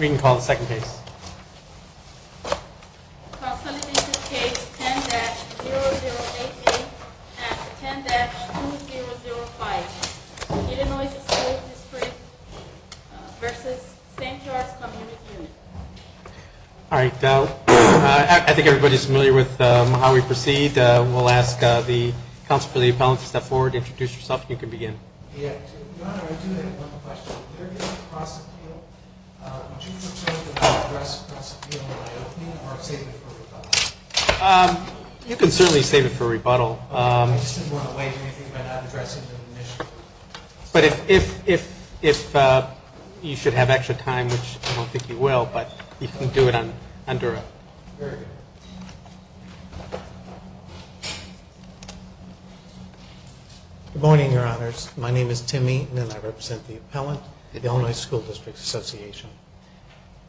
We can call the second case. Consolidated Case 10-0088 and 10-2005 Illinois School District v. St. Charles Community Unit Alright, I think everybody is familiar with how we proceed. We'll ask the counsel for the appellant to step forward, introduce yourself, and you can begin. Your Honor, I do have one question. If there is a cross-appeal, would you prefer to not address the cross-appeal in the opening or save it for rebuttal? You can certainly save it for rebuttal. I just didn't want to wager anything by not addressing it in the initial hearing. But if you should have extra time, which I don't think you will, but you can do it on direct. Very good. Good morning, Your Honors. My name is Tim Eaton and I represent the appellant at the Illinois School District Association.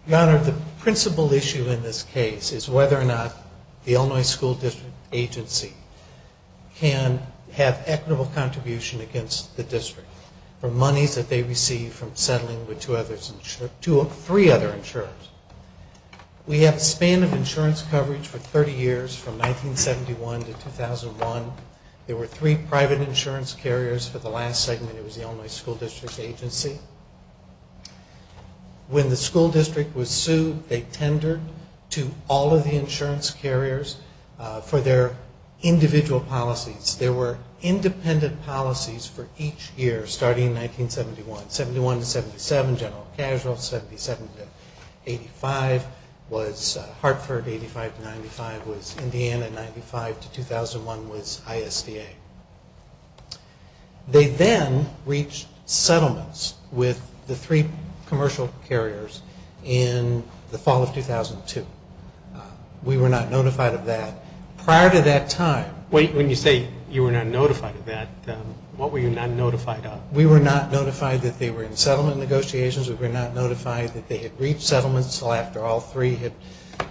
Your Honor, the principal issue in this case is whether or not the Illinois School District Agency can have equitable contribution against the district for monies that they receive from settling with three other insurers. We have a span of insurance coverage for 30 years from 1971 to 2001. There were three private insurance carriers for the last segment. It was the Illinois School District Agency. When the school district was sued, they tendered to all of the insurance carriers for their individual policies. There were independent policies for each year starting in 1971. 71 to 77, General Casual, 77 to 85 was Hartford, 85 to 95 was Indiana, 95 to 2001 was ISDA. They then reached settlements with the three commercial carriers in the fall of 2002. We were not notified of that. Prior to that time... Wait, when you say you were not notified of that, what were you not notified of? We were not notified that they were in settlement negotiations. We were not notified that they had reached settlements. So after all three had,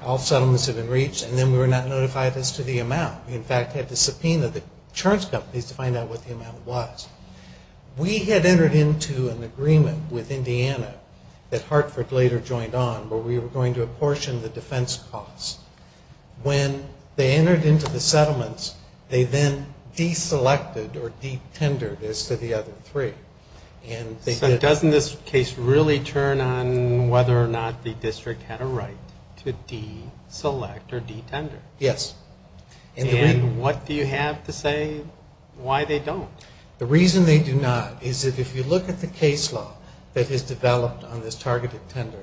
all settlements had been reached and then we were not notified as to the amount. We, in fact, had to subpoena the insurance companies to find out what the amount was. We had entered into an agreement with Indiana that Hartford later joined on where we were going to apportion the defense costs. When they entered into the settlements, they then deselected or detendered as to the other three. So doesn't this case really turn on whether or not the district had a right to deselect or detender? Yes. And what do you have to say why they don't? The reason they do not is that if you look at the case law that has developed on this targeted tender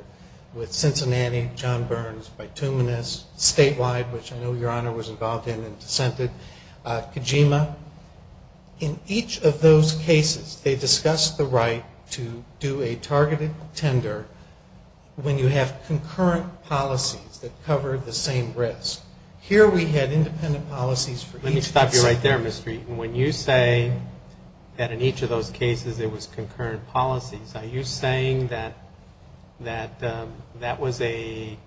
with Cincinnati, John Burns, Bituminous, Statewide, which I know Your Honor was involved in and dissented, Kojima, in each of those cases they discussed the right to do a targeted tender when you have concurrent policies that cover the same risk. Here we had independent policies for each... That in each of those cases it was concurrent policies. Are you saying that that was a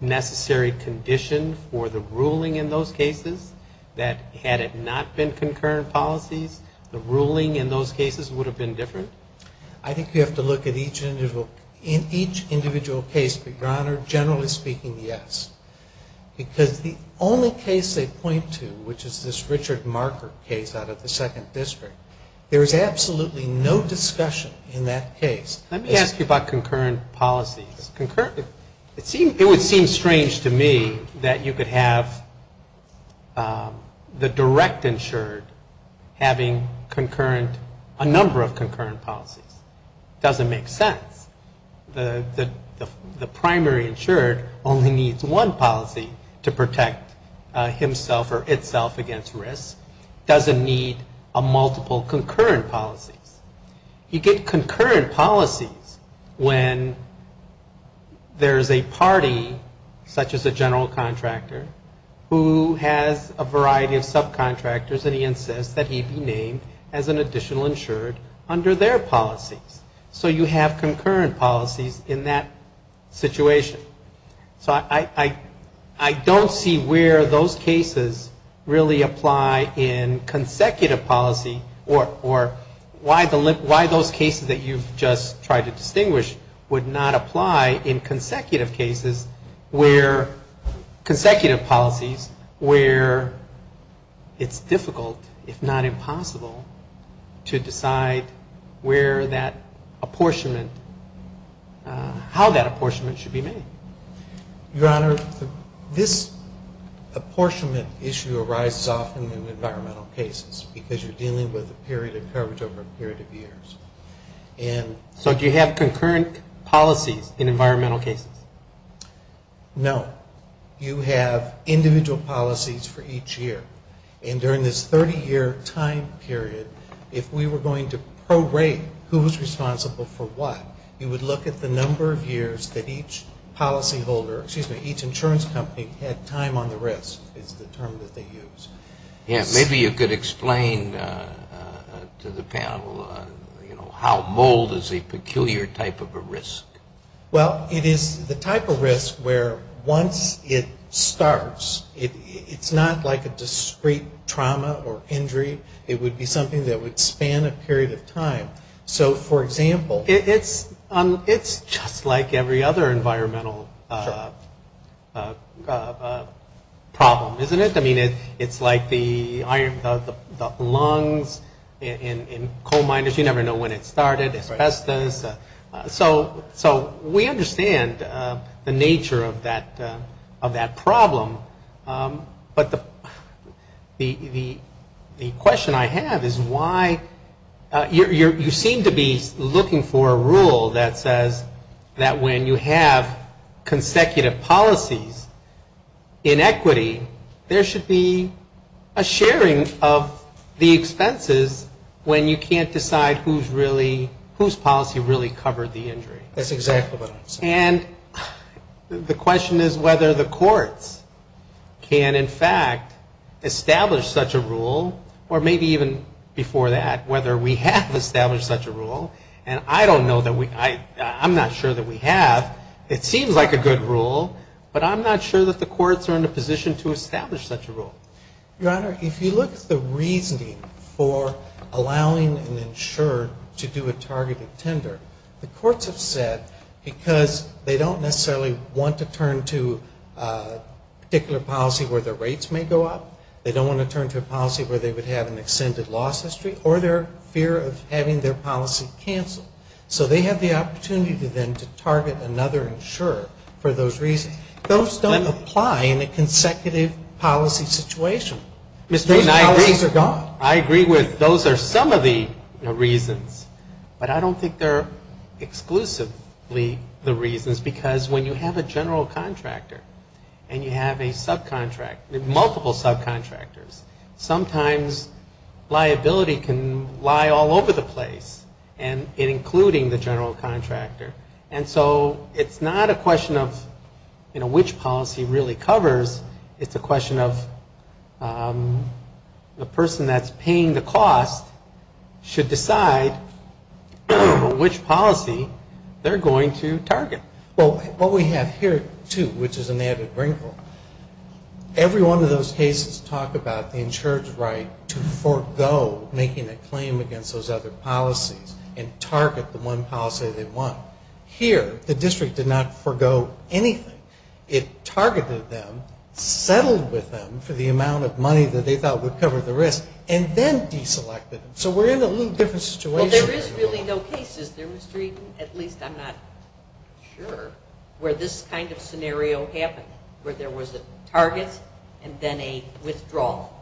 necessary condition for the ruling in those cases? That had it not been concurrent policies, the ruling in those cases would have been different? I think you have to look at each individual case, but Your Honor, generally speaking, yes. Because the only case they point to, which is this Richard Marker case out of the second district, there is absolutely no discussion in that case. Let me ask you about concurrent policies. It would seem strange to me that you could have the direct insured having a number of concurrent policies. It doesn't make sense. The primary insured only needs one policy to protect himself or itself against risk. It doesn't need multiple concurrent policies. You get concurrent policies when there is a party, such as a general contractor, who has a variety of subcontractors and he insists that he be named as an additional insured under their policies. So you have concurrent policies in that situation. So I don't see where those cases really apply in consecutive policy or why those cases that you've just tried to distinguish would not apply in consecutive cases where, consecutive policies where it's difficult, if not impossible, to decide where that apportionment, how that apportionment should be made. Your Honor, this apportionment issue arises often in environmental cases because you're dealing with a period of coverage over a period of years. So do you have concurrent policies in environmental cases? No. You have individual policies for each year. And during this 30-year time period, if we were going to pro-rate who was responsible for what, you would look at the number of years that each policyholder, excuse me, each insurance company had time on the risk is the term that they use. Yes. Maybe you could explain to the panel, you know, how mold is a peculiar type of a risk. Well, it is the type of risk where once it starts, it's not like a discrete trauma or injury. It would be something that would span a period of time. So, for example, It's just like every other environmental problem, isn't it? I mean, it's like the lungs in coal miners, you never know when it started, asbestos. So we understand the nature of that problem. But the question I have is why you seem to be looking for a rule that says that when you have consecutive policies in equity, there should be a sharing of the expenses when you can't decide whose policy really covered the injury. That's exactly what I'm saying. And the question is whether the courts can, in fact, establish such a rule, or maybe even before that, whether we have established such a rule. And I don't know that we I'm not sure that we have. It seems like a good rule. But I'm not sure that the courts are in a position to establish such a rule. Your Honor, if you look at the reasoning for allowing an insurer to do a targeted tender, the courts have said because they don't necessarily want to turn to a particular policy where the rates may go up, they don't want to turn to a policy where they would have an extended loss history, or their fear of having their policy canceled. So they have the opportunity then to target another insurer for those reasons. Those don't apply in a consecutive policy situation. Those policies are gone. I agree with those are some of the reasons. But I don't think they're exclusively the reasons because when you have a general contractor and you have a subcontractor, multiple subcontractors, sometimes liability can lie all over the place, and including the general contractor. And so it's not a question of, you know, which policy really covers. It's a question of the person that's paying the cost should decide which policy they're going to target. Well, what we have here, too, which is an added wrinkle, every one of those cases talk about the insured's right to forego making a claim against those other policies and target the one policy they want. Here, the district did not forego anything. It targeted them, settled with them for the amount of money that they thought would cover the risk, and then deselected them. So we're in a little different situation. Well, there is really no cases, there was three, at least I'm not sure, where this kind of scenario happened, where there was a target and then a withdrawal.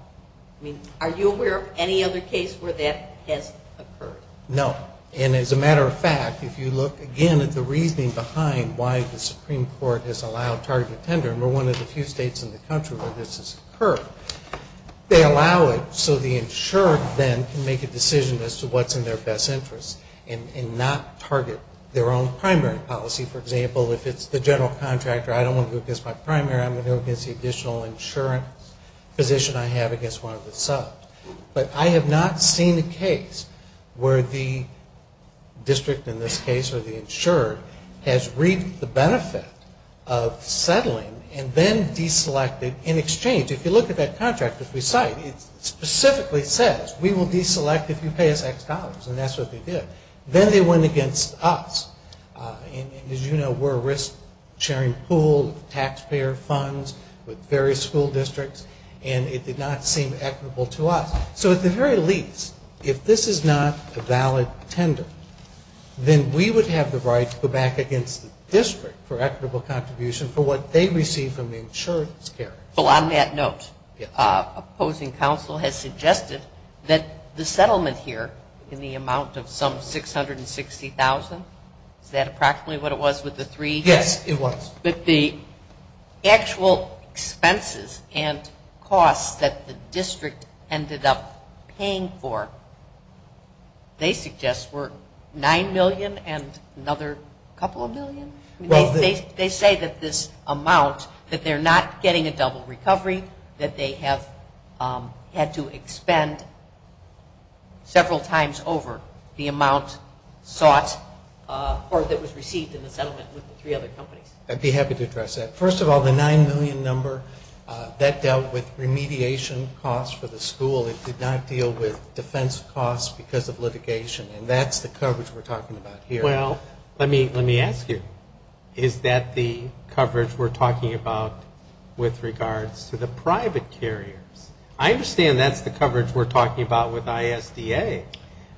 I mean, are you aware of any other case where that has occurred? No. And as a matter of fact, if you look again at the reasoning behind why the Supreme Court has allowed target tender, and we're one of the few states in the country where this has occurred, they allow it so the insured then can make a decision as to what's in their best interest and not target their own primary policy. For example, if it's the general contractor, I don't want to go against my primary, I'm going to go against the additional insurance position I have against one of the subs. But I have not seen a case where the district in this case or the insured has reaped the benefit of settling and then deselected in exchange. If you look at that contract, if we cite, it specifically says we will deselect if you pay us X dollars, and that's what they did. Then they went against us. And as you know, we're a risk-sharing pool of taxpayer funds with various school districts, and it did not seem equitable to us. So at the very least, if this is not a valid tender, then we would have the right to go back against the district for equitable contribution for what they receive from the insurance carrier. Well, on that note, opposing counsel has suggested that the settlement here in the amount of some $660,000, is that approximately what it was with the three? Yes, it was. But the actual expenses and costs that the district ended up paying for, they suggest were $9 million and another couple of million? They say that this amount, that they're not getting a double recovery, that they have had to expend several times over the amount sought or that was received in the settlement with the three other companies. I'd be happy to address that. First of all, the $9 million number, that dealt with remediation costs for the school. It did not deal with defense costs because of litigation. And that's the coverage we're talking about here. Well, let me ask you, is that the coverage we're talking about with regards to the private carriers? I understand that's the coverage we're talking about with ISDA,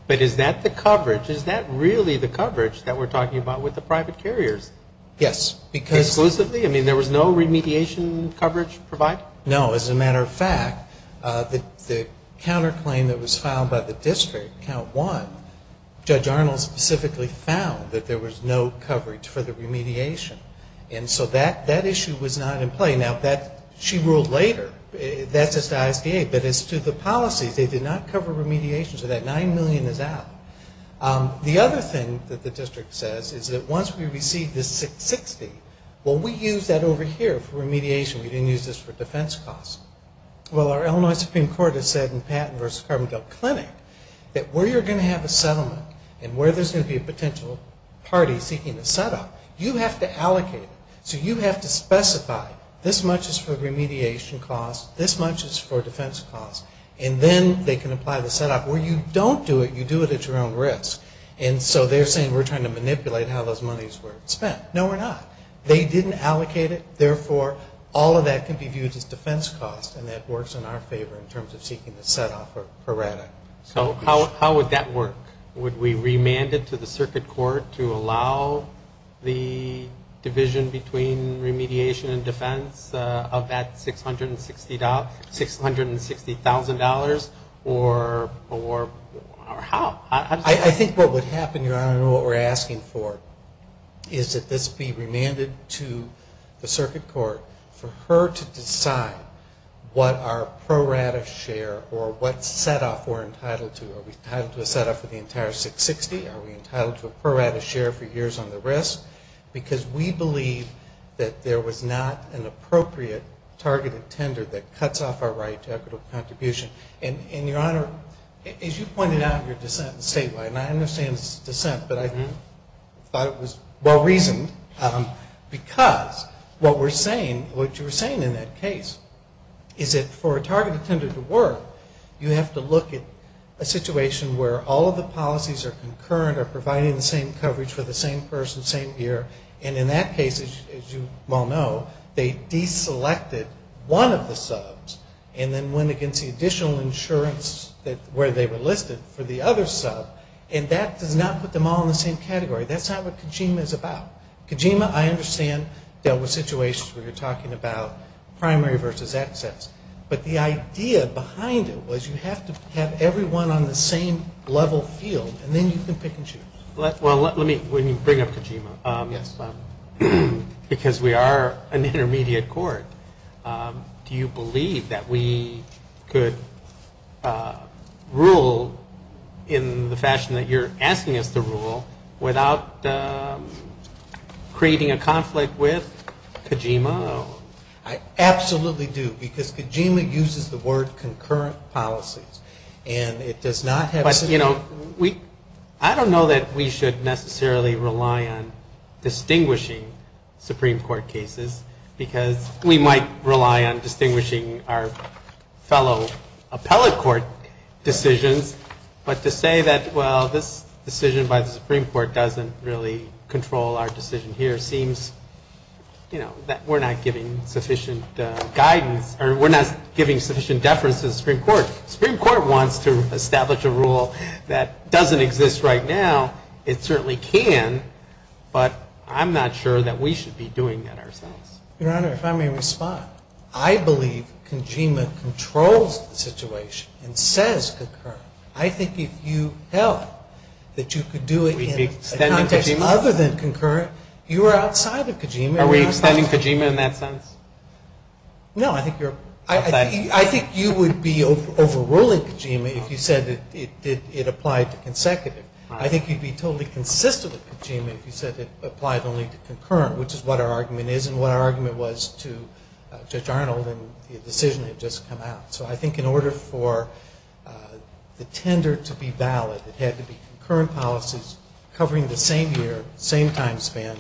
but is that the coverage, is that really the coverage that we're talking about with the private carriers? Yes. Exclusively? I mean, there was no remediation coverage provided? No. As a matter of fact, the counterclaim that was filed by the district, Count 1, Judge Arnold specifically found that there was no coverage for the remediation. And so that issue was not in play. Now, she ruled later. That's just ISDA. But as to the policies, they did not cover remediation. So that $9 million is out. The other thing that the district says is that once we receive this $660,000, well, we used that over here for remediation. We didn't use this for defense costs. Well, our Illinois Supreme Court has said in Patton v. Carbondale Clinic that where you're going to have a settlement and where there's going to be a potential party seeking a set-off, you have to allocate it. So you have to specify this much is for remediation costs, this much is for defense costs, and then they can apply the set-off. Where you don't do it, you do it at your own risk. And so they're saying we're trying to manipulate how those monies were spent. No, we're not. They didn't allocate it. Therefore, all of that can be viewed as defense costs, and that works in our favor in terms of seeking the set-off for RATA. So how would that work? Would we remand it to the circuit court to allow the division between remediation and defense of that $660,000, or how? I think what would happen, Your Honor, and what we're asking for, is that this be remanded to the circuit court for her to decide what our pro-RATA share or what set-off we're entitled to. Are we entitled to a set-off for the entire $660,000? Are we entitled to a pro-RATA share for years on the risk? Because we believe that there was not an appropriate targeted tender that cuts off our right to equitable contribution. And, Your Honor, as you pointed out in your dissent statewide, and I understand it's dissent, but I thought it was well-reasoned, because what you were saying in that case is that for a targeted tender to work, you have to look at a situation where all of the policies are concurrent, are providing the same coverage for the same person, same year. And in that case, as you well know, they deselected one of the subs and then went against the additional insurance where they were listed for the other sub. And that does not put them all in the same category. That's not what Kajima is about. Kajima, I understand, dealt with situations where you're talking about primary versus access. But the idea behind it was you have to have everyone on the same level field, and then you can pick and choose. Well, let me bring up Kajima. Yes. Because we are an intermediate court. Do you believe that we could rule in the fashion that you're asking us to rule without creating a conflict with Kajima? I absolutely do, because Kajima uses the word concurrent policies. And it does not have to be. But, you know, I don't know that we should necessarily rely on distinguishing Supreme Court cases, because we might rely on distinguishing our fellow appellate court decisions. But to say that, well, this decision by the Supreme Court doesn't really control our decision here seems, you know, that we're not giving sufficient guidance or we're not giving sufficient deference to the Supreme Court. The Supreme Court wants to establish a rule that doesn't exist right now. It certainly can, but I'm not sure that we should be doing that ourselves. Your Honor, if I may respond. I believe Kajima controls the situation and says concurrent. I think if you held that you could do it in a context other than concurrent, you were outside of Kajima. Are we extending Kajima in that sense? No, I think you would be overruling Kajima if you said it applied to consecutive. I think you'd be totally consistent with Kajima if you said it applied only to concurrent, which is what our argument is and what our argument was to Judge Arnold and the decision that had just come out. So I think in order for the tender to be valid, it had to be concurrent policies covering the same year, same time span,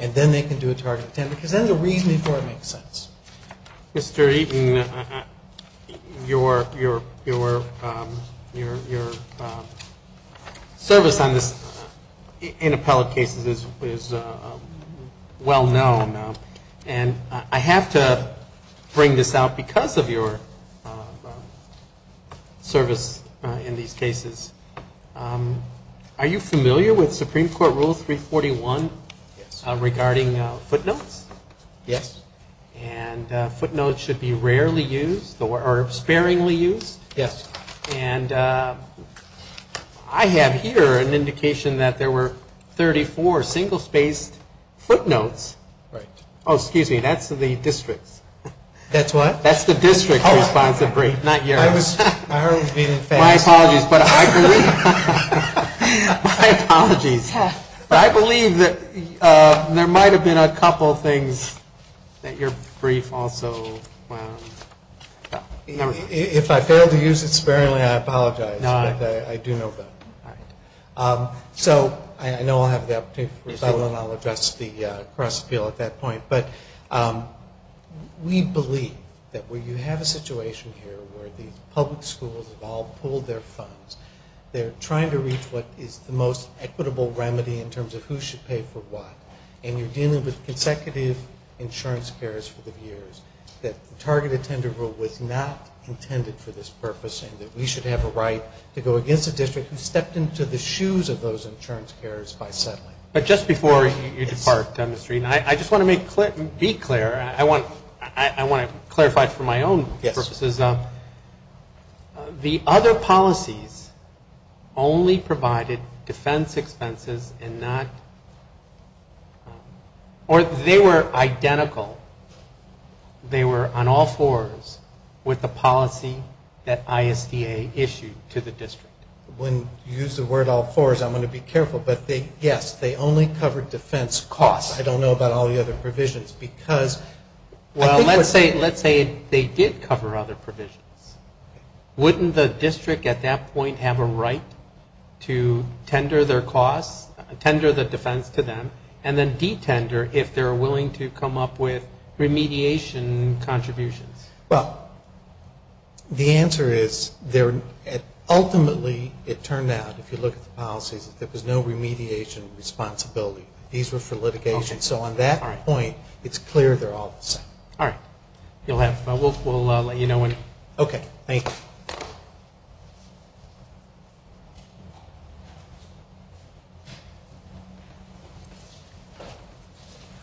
and then they can do a targeted tender, because then the reasoning for it makes sense. Mr. Eaton, your service in appellate cases is well-known. And I have to bring this out because of your service in these cases. Are you familiar with Supreme Court Rule 341 regarding footnotes? Yes. And footnotes should be rarely used or sparingly used. Yes. And I have here an indication that there were 34 single-spaced footnotes. Right. Oh, excuse me. That's the district's. That's what? That's the district's responsive brief, not yours. I was being fast. My apologies. My apologies. But I believe that there might have been a couple things that your brief also, well, never mind. If I fail to use it sparingly, I apologize. No. But I do know that. All right. So I know I'll have the opportunity for rebuttal, and I'll address the cross-appeal at that point. But we believe that where you have a situation here where the public schools have all pulled their funds, they're trying to reach what is the most equitable remedy in terms of who should pay for what, and you're dealing with consecutive insurance cares for the years, that the Target Attendant Rule was not intended for this purpose, and that we should have a right to go against a district who stepped into the shoes of those insurance carers by settling. But just before you depart, Mr. Eaton, I just want to be clear. I want to clarify it for my own purposes. Yes. The other policies only provided defense expenses and not or they were identical. They were on all fours with the policy that ISDA issued to the district. When you use the word all fours, I'm going to be careful. But yes, they only covered defense costs. I don't know about all the other provisions. Well, let's say they did cover other provisions. Wouldn't the district at that point have a right to tender their costs, tender the defense to them, and then detender if they're willing to come up with remediation contributions? Well, the answer is ultimately it turned out, if you look at the policies, that there was no remediation responsibility. These were for litigation. So on that point, it's clear they're all the same. All right. We'll let you know when. Okay. Thank you.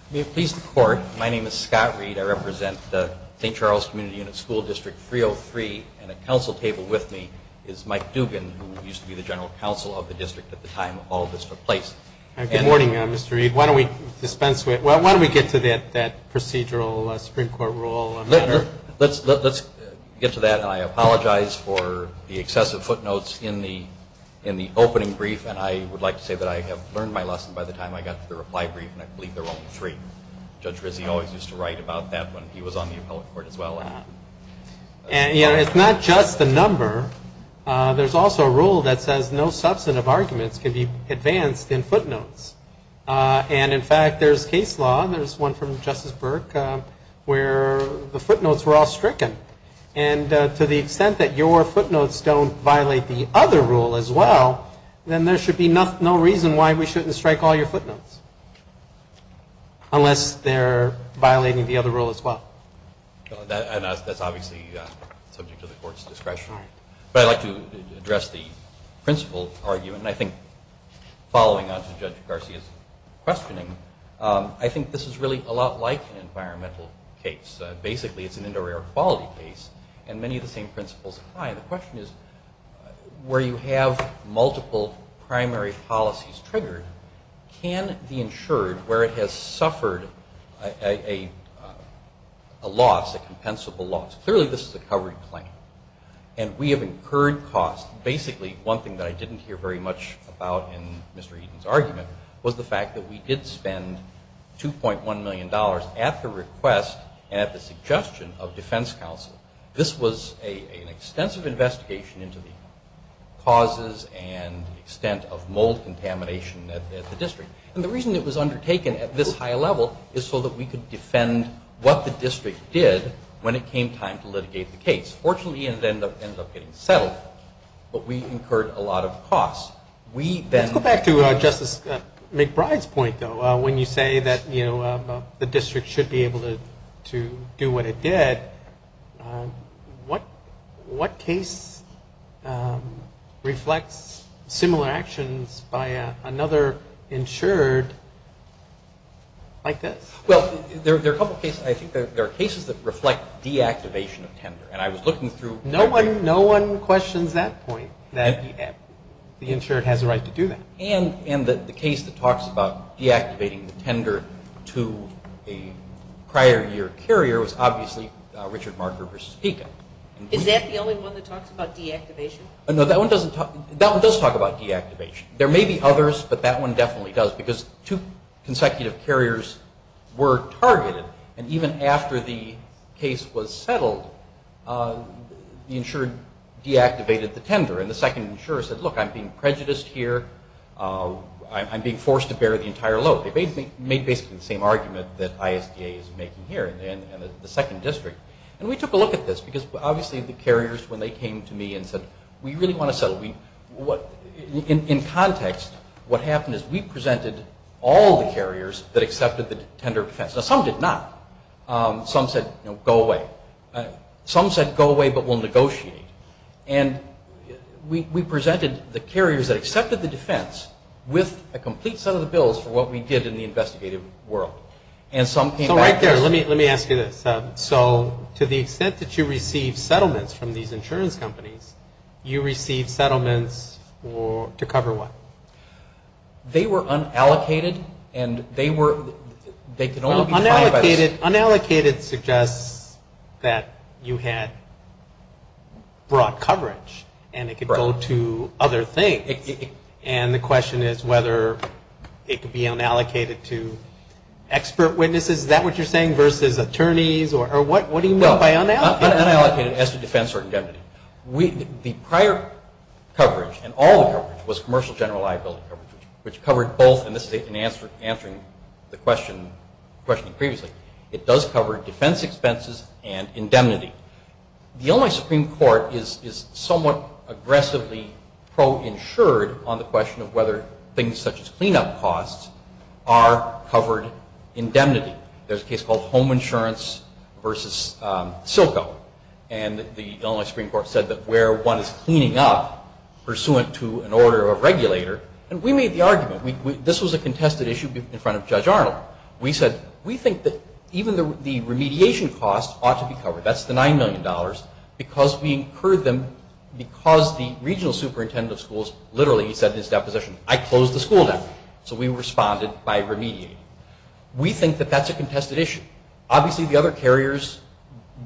May it please the Court, my name is Scott Reed. I represent the St. Charles Community Unit School District 303, and at counsel table with me is Mike Dugan, who used to be the general counsel of the district at the time all this took place. Good morning, Mr. Reed. Why don't we dispense with it? Why don't we get to that procedural Supreme Court rule? Let's get to that. I apologize for the excessive footnotes in the opening brief, and I would like to say that I have learned my lesson by the time I got to the reply brief, and I believe there were only three. Judge Rizzi always used to write about that when he was on the appellate court as well. You know, it's not just the number. There's also a rule that says no substantive arguments can be advanced in footnotes. And, in fact, there's case law, and there's one from Justice Burke, where the footnotes were all stricken. And to the extent that your footnotes don't violate the other rule as well, then there should be no reason why we shouldn't strike all your footnotes, unless they're violating the other rule as well. That's obviously subject to the court's discretion. But I'd like to address the principle argument, and I think following on to Judge Garcia's questioning, I think this is really a lot like an environmental case. Basically, it's an indoor air quality case, and many of the same principles apply. The question is, where you have multiple primary policies triggered, can the insured, where it has suffered a loss, a compensable loss, clearly this is a covered claim, and we have incurred costs. Basically, one thing that I didn't hear very much about in Mr. Eden's argument was the fact that we did spend $2.1 million at the request and at the suggestion of defense counsel. This was an extensive investigation into the causes and the extent of mold contamination at the district. And the reason it was undertaken at this high level is so that we could defend what the district did when it came time to litigate the case. Fortunately, it ended up getting settled, but we incurred a lot of costs. Let's go back to Justice McBride's point, though. When you say that the district should be able to do what it did, what case reflects similar actions by another insured like this? Well, there are a couple of cases. I think there are cases that reflect deactivation of tender, and I was looking through. No one questions that point, that the insured has a right to do that. And the case that talks about deactivating the tender to a prior year carrier was obviously Richard Marker v. Pekin. Is that the only one that talks about deactivation? No, that one does talk about deactivation. There may be others, but that one definitely does because two consecutive carriers were targeted, and even after the case was settled, the insured deactivated the tender. And the second insurer said, look, I'm being prejudiced here. I'm being forced to bear the entire load. They made basically the same argument that ISDA is making here in the second district. And we took a look at this because obviously the carriers, when they came to me and said, we really want to settle, in context what happened is we presented all the carriers that accepted the tender defense. Now, some did not. Some said, go away. Some said, go away, but we'll negotiate. And we presented the carriers that accepted the defense with a complete set of the bills for what we did in the investigative world. And some came back to us. So right there, let me ask you this. So to the extent that you received settlements from these insurance companies, you received settlements to cover what? They were unallocated, and they were – they could only be filed by – Unallocated suggests that you had broad coverage, and it could go to other things. And the question is whether it could be unallocated to expert witnesses. Is that what you're saying versus attorneys? Or what do you mean by unallocated? Unallocated as to defense or indemnity. The prior coverage and all the coverage was commercial general liability coverage, which covered both, and this is in answering the question previously. It does cover defense expenses and indemnity. The Illinois Supreme Court is somewhat aggressively pro-insured on the question of whether things such as cleanup costs are covered indemnity. There's a case called Home Insurance versus Silco. And the Illinois Supreme Court said that where one is cleaning up, pursuant to an order of regulator, and we made the argument. This was a contested issue in front of Judge Arnold. We said we think that even the remediation costs ought to be covered, that's the $9 million, because we incurred them because the regional superintendent of schools literally said in his deposition, I close the school now. So we responded by remediating. We think that that's a contested issue. Obviously, the other carriers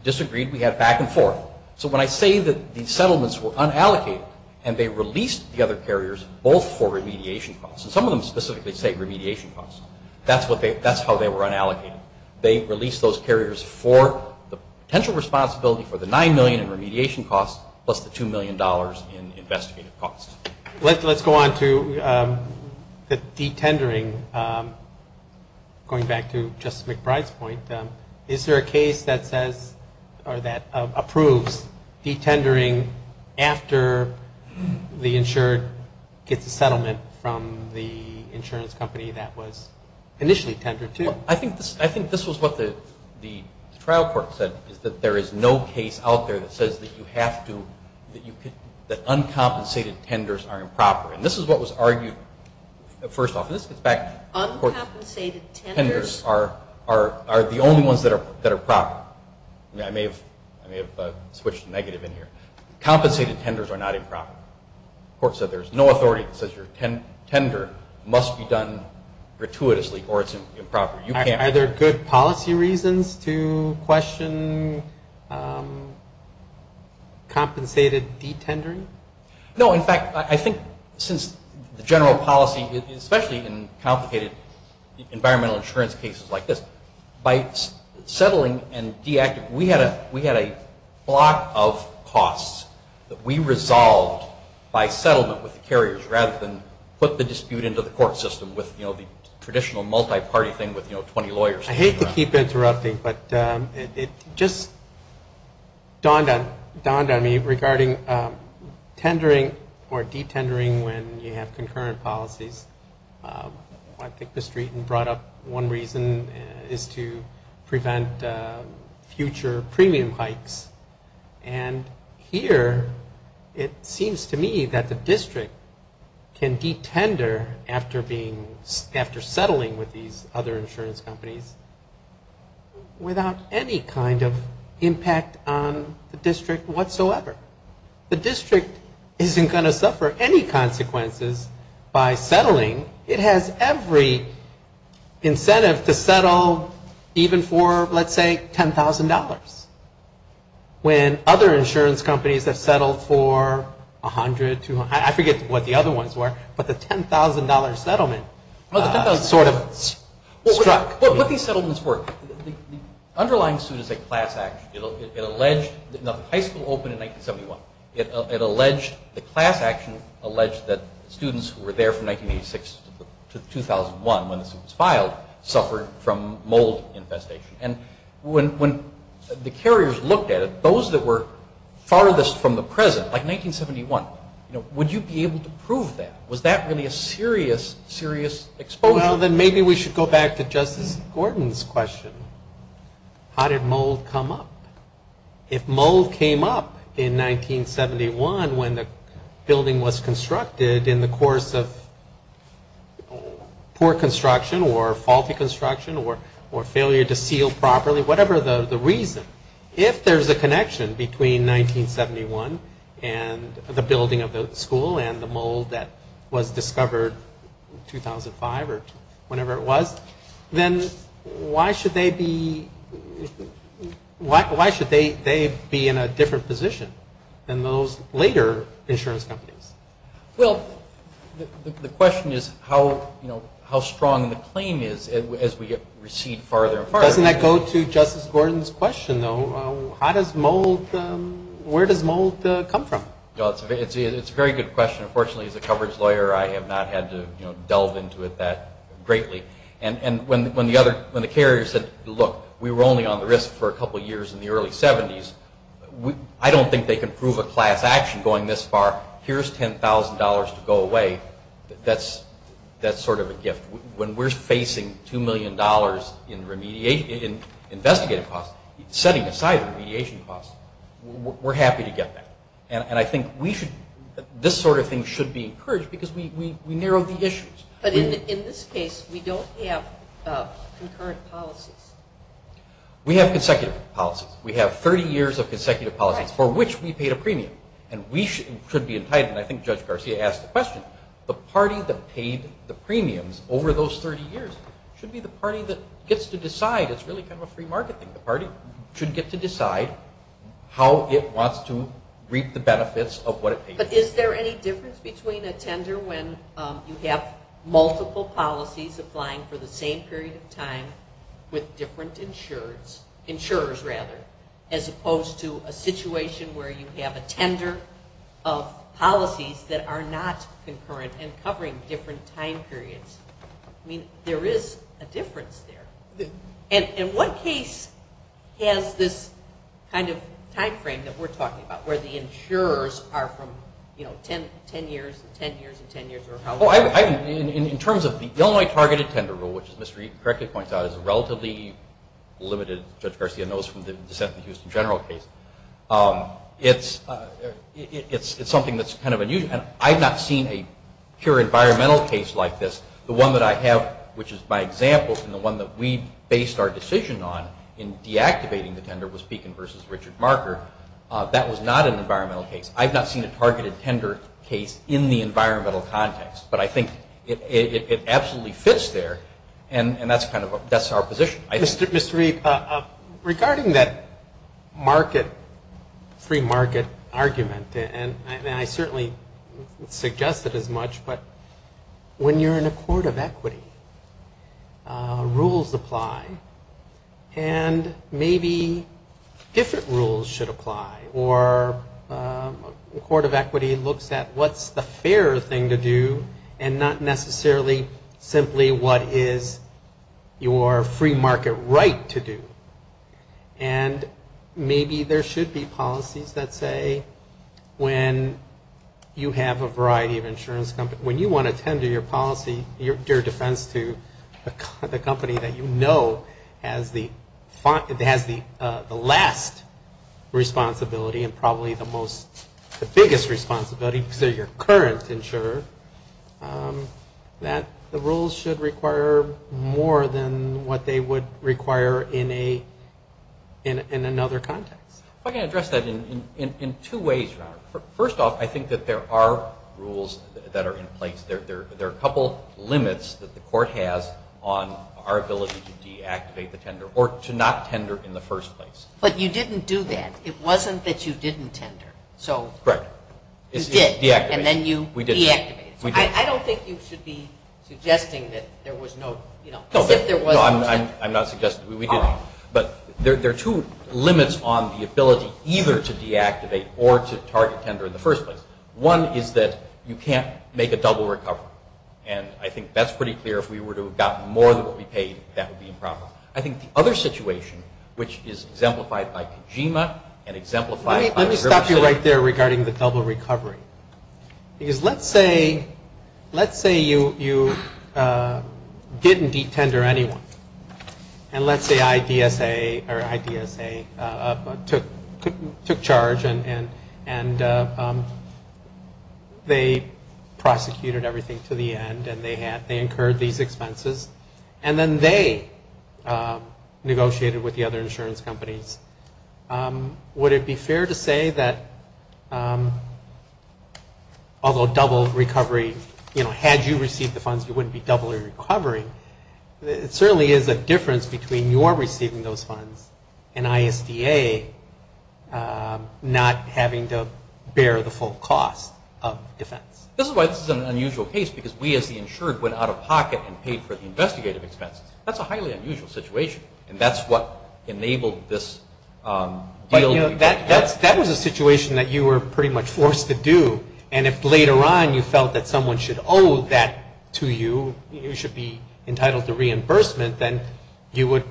disagreed. We had back and forth. So when I say that these settlements were unallocated and they released the other carriers both for remediation costs, and some of them specifically say remediation costs, that's how they were unallocated. They released those carriers for the potential responsibility for the $9 million in remediation costs plus the $2 million in investigative costs. Let's go on to the de-tendering. Going back to Justice McBride's point, is there a case that says or that approves de-tendering after the insured gets a settlement from the insurance company that was initially tendered to? I think this was what the trial court said, is that there is no case out there that says that uncompensated tenders are improper. And this is what was argued first off. Uncompensated tenders are the only ones that are proper. I may have switched negative in here. Compensated tenders are not improper. The court said there's no authority that says your tender must be done gratuitously or it's improper. Are there good policy reasons to question compensated de-tendering? No. In fact, I think since the general policy, especially in complicated environmental insurance cases like this, by settling and de-acting, we had a block of costs that we resolved by settlement with the carriers rather than put the dispute into the court system with the traditional multi-party thing with 20 lawyers. I hate to keep interrupting, but it just dawned on me regarding tendering or de-tendering when you have concurrent policies. I picked the street and brought up one reason is to prevent future premium hikes. And here it seems to me that the district can de-tender after settling with these other insurance companies without any kind of impact on the district whatsoever. The district isn't going to suffer any consequences by settling. It has every incentive to settle even for, let's say, $10,000. When other insurance companies have settled for 100, 200, I forget what the other ones were, but the $10,000 settlement sort of struck. What these settlements were, the underlying suit is a class action. It alleged the high school opened in 1971. The class action alleged that students who were there from 1986 to 2001 when the suit was filed suffered from mold infestation. When the carriers looked at it, those that were farthest from the present, like 1971, would you be able to prove that? Was that really a serious, serious exposure? Well, then maybe we should go back to Justice Gordon's question. How did mold come up? If mold came up in 1971 when the building was constructed in the course of poor construction or faulty construction or failure to seal properly, whatever the reason, if there's a connection between 1971 and the building of the school and the mold that was discovered in 2005 or whenever it was, then why should they be in a different position than those later insurance companies? Well, the question is how strong the claim is as we recede farther and farther. Doesn't that go to Justice Gordon's question, though? Where does mold come from? It's a very good question. Unfortunately, as a coverage lawyer, I have not had to delve into it that greatly. When the carriers said, look, we were only on the risk for a couple of years in the early 70s, I don't think they can prove a class action going this far. Here's $10,000 to go away. That's sort of a gift. When we're facing $2 million in investigative costs, setting aside the mediation costs, we're happy to get that. And I think this sort of thing should be encouraged because we narrowed the issues. But in this case, we don't have concurrent policies. We have consecutive policies. We have 30 years of consecutive policies for which we paid a premium, and we should be entitled, and I think Judge Garcia asked the question, the party that paid the premiums over those 30 years should be the party that gets to decide. It's really kind of a free market thing. The party should get to decide how it wants to reap the benefits of what it pays. But is there any difference between a tender when you have multiple policies applying for the same period of time with different insurers as opposed to a situation where you have a tender of policies that are not concurrent and covering different time periods? I mean, there is a difference there. And what case has this kind of time frame that we're talking about where the insurers are from, you know, 10 years and 10 years and 10 years? In terms of the Illinois Targeted Tender Rule, which, as Ms. Reed correctly points out, is a relatively limited, Judge Garcia knows from the dissent in the Houston general case, it's something that's kind of unusual. I've not seen a pure environmental case like this. The one that I have, which is my example, and the one that we based our decision on in deactivating the tender was Beacon v. Richard Marker. That was not an environmental case. I've not seen a targeted tender case in the environmental context. But I think it absolutely fits there, and that's our position. Mr. Reed, regarding that free market argument, and I certainly suggest it as much, but when you're in a court of equity, rules apply. And maybe different rules should apply, or a court of equity looks at what's the fair thing to do and not necessarily simply what is your free market right to do. And maybe there should be policies that say when you have a variety of insurance companies, when you want to tender your policy, your defense to the company that you know has the last responsibility and probably the biggest responsibility because they're your current insurer, that the rules should require more than what they would require in another context. I can address that in two ways, Robert. First off, I think that there are rules that are in place. There are a couple limits that the court has on our ability to deactivate the tender or to not tender in the first place. But you didn't do that. It wasn't that you didn't tender. Correct. You did. Deactivation. And then you deactivated. We did. I don't think you should be suggesting that there was no, you know, as if there was no tender. No, I'm not suggesting. We didn't. But there are two limits on the ability either to deactivate or to target tender in the first place. One is that you can't make a double recovery. And I think that's pretty clear. If we were to have gotten more than what we paid, that would be improper. I think the other situation, which is exemplified by Kojima and exemplified by Gerber City. I think you're right there regarding the double recovery. Because let's say you didn't de-tender anyone. And let's say IDSA took charge and they prosecuted everything to the end and they incurred these expenses. And then they negotiated with the other insurance companies. Would it be fair to say that although double recovery, you know, had you received the funds you wouldn't be doubling recovery. It certainly is a difference between your receiving those funds and ISDA not having to bear the full cost of defense. This is why this is an unusual case because we as the insured went out of pocket and paid for the investigative expenses. That's a highly unusual situation. And that's what enabled this deal. That was a situation that you were pretty much forced to do. And if later on you felt that someone should owe that to you, you should be entitled to reimbursement, then you would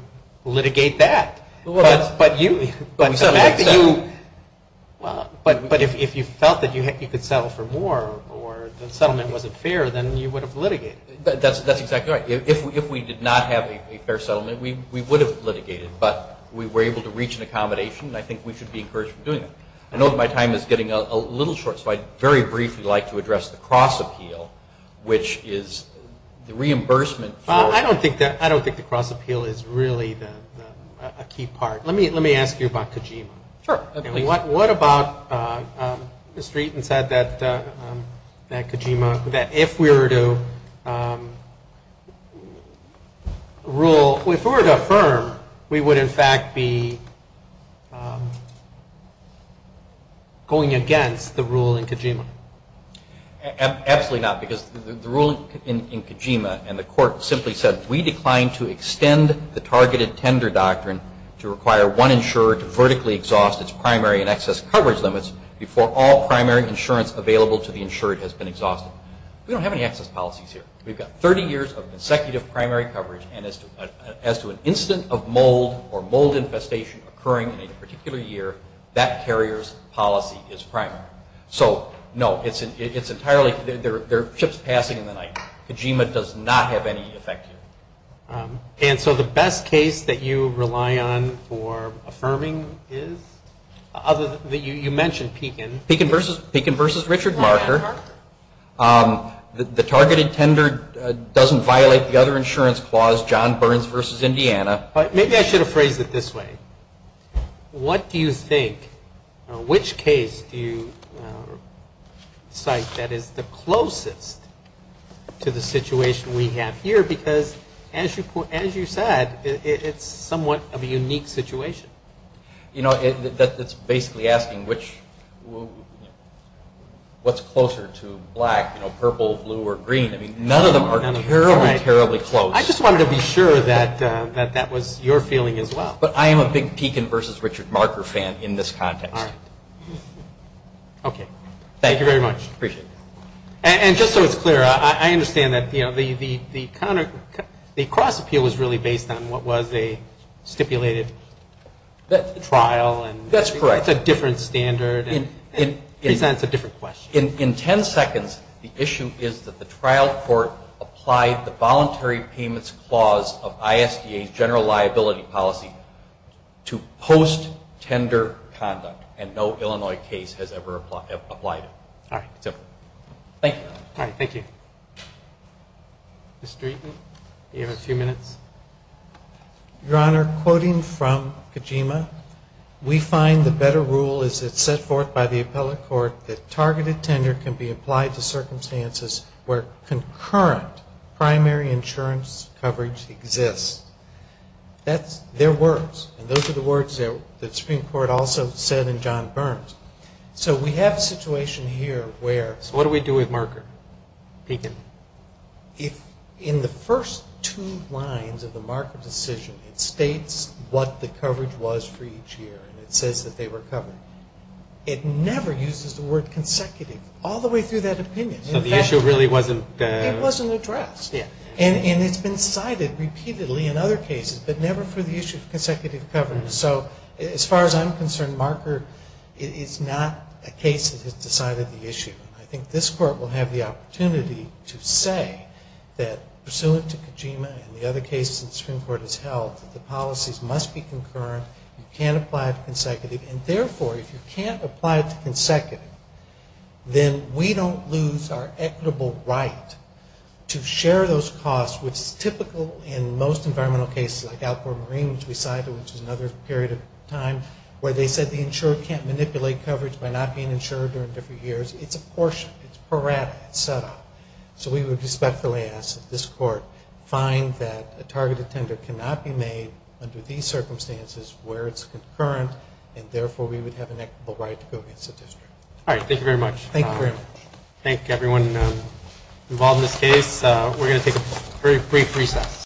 litigate that. But if you felt that you could settle for more or the settlement wasn't fair, then you would have litigated. That's exactly right. If we did not have a fair settlement, we would have litigated, but we were able to reach an accommodation, and I think we should be encouraged from doing that. I know that my time is getting a little short, so I'd very briefly like to address the cross appeal, which is the reimbursement. I don't think the cross appeal is really a key part. Let me ask you about Kojima. Sure. What about Mr. Eaton said that Kojima, that if we were to rule, if we were to affirm, we would in fact be going against the rule in Kojima? Absolutely not, because the rule in Kojima, and the court simply said, we decline to extend the targeted tender doctrine to require one insurer to vertically exhaust its primary and excess coverage limits before all primary insurance available to the insurer has been exhausted. We don't have any excess policies here. We've got 30 years of consecutive primary coverage, and as to an incident of mold or mold infestation occurring in a particular year, that carrier's policy is primary. So, no, it's entirely, there are chips passing in the night. Kojima does not have any effect here. And so the best case that you rely on for affirming is? You mentioned Pekin. Pekin versus Richard Marker. The targeted tender doesn't violate the other insurance clause, John Burns versus Indiana. Maybe I should have phrased it this way. What do you think, which case do you cite that is the closest to the situation we have here? Because as you said, it's somewhat of a unique situation. You know, it's basically asking what's closer to black, purple, blue, or green. I mean, none of them are terribly, terribly close. I just wanted to be sure that that was your feeling as well. But I am a big Pekin versus Richard Marker fan in this context. All right. Okay. Thank you very much. Appreciate it. And just so it's clear, I understand that the cross appeal is really based on what was a stipulated trial. That's correct. It's a different standard and presents a different question. In ten seconds, the issue is that the trial court applied the voluntary payments clause of ISDA's general liability policy to post-tender conduct, and no Illinois case has ever applied it. All right. All right. Thank you. Mr. Eaton, you have a few minutes. Your Honor, quoting from Kojima, we find the better rule is it's set forth by the appellate court that targeted tender can be applied to circumstances where concurrent primary insurance coverage exists. That's their words, and those are the words that the Supreme Court also said in John Burns. So we have a situation here where... So what do we do with Marker, Pekin? In the first two lines of the Marker decision, it states what the coverage was for each year, and it says that they were covered. It never uses the word consecutive all the way through that opinion. So the issue really wasn't... It wasn't addressed. Yeah. And it's been cited repeatedly in other cases, but never for the issue of consecutive coverage. So as far as I'm concerned, Marker is not a case that has decided the issue. I think this Court will have the opportunity to say that, pursuant to Kojima and the other cases the Supreme Court has held, that the policies must be concurrent. You can't apply it to consecutive. And therefore, if you can't apply it to consecutive, then we don't lose our equitable right to share those costs with typical and most environmental cases like Alport Marine, which we cited, which is another period of time, where they said the insurer can't manipulate coverage by not being insured during different years. It's a portion. It's parata. It's set up. So we would respectfully ask that this Court find that a targeted tender cannot be made under these circumstances where it's concurrent, and therefore we would have an equitable right to go against the district. All right. Thank you very much. Thank you very much. Thank everyone involved in this case. We're going to take a very brief recess.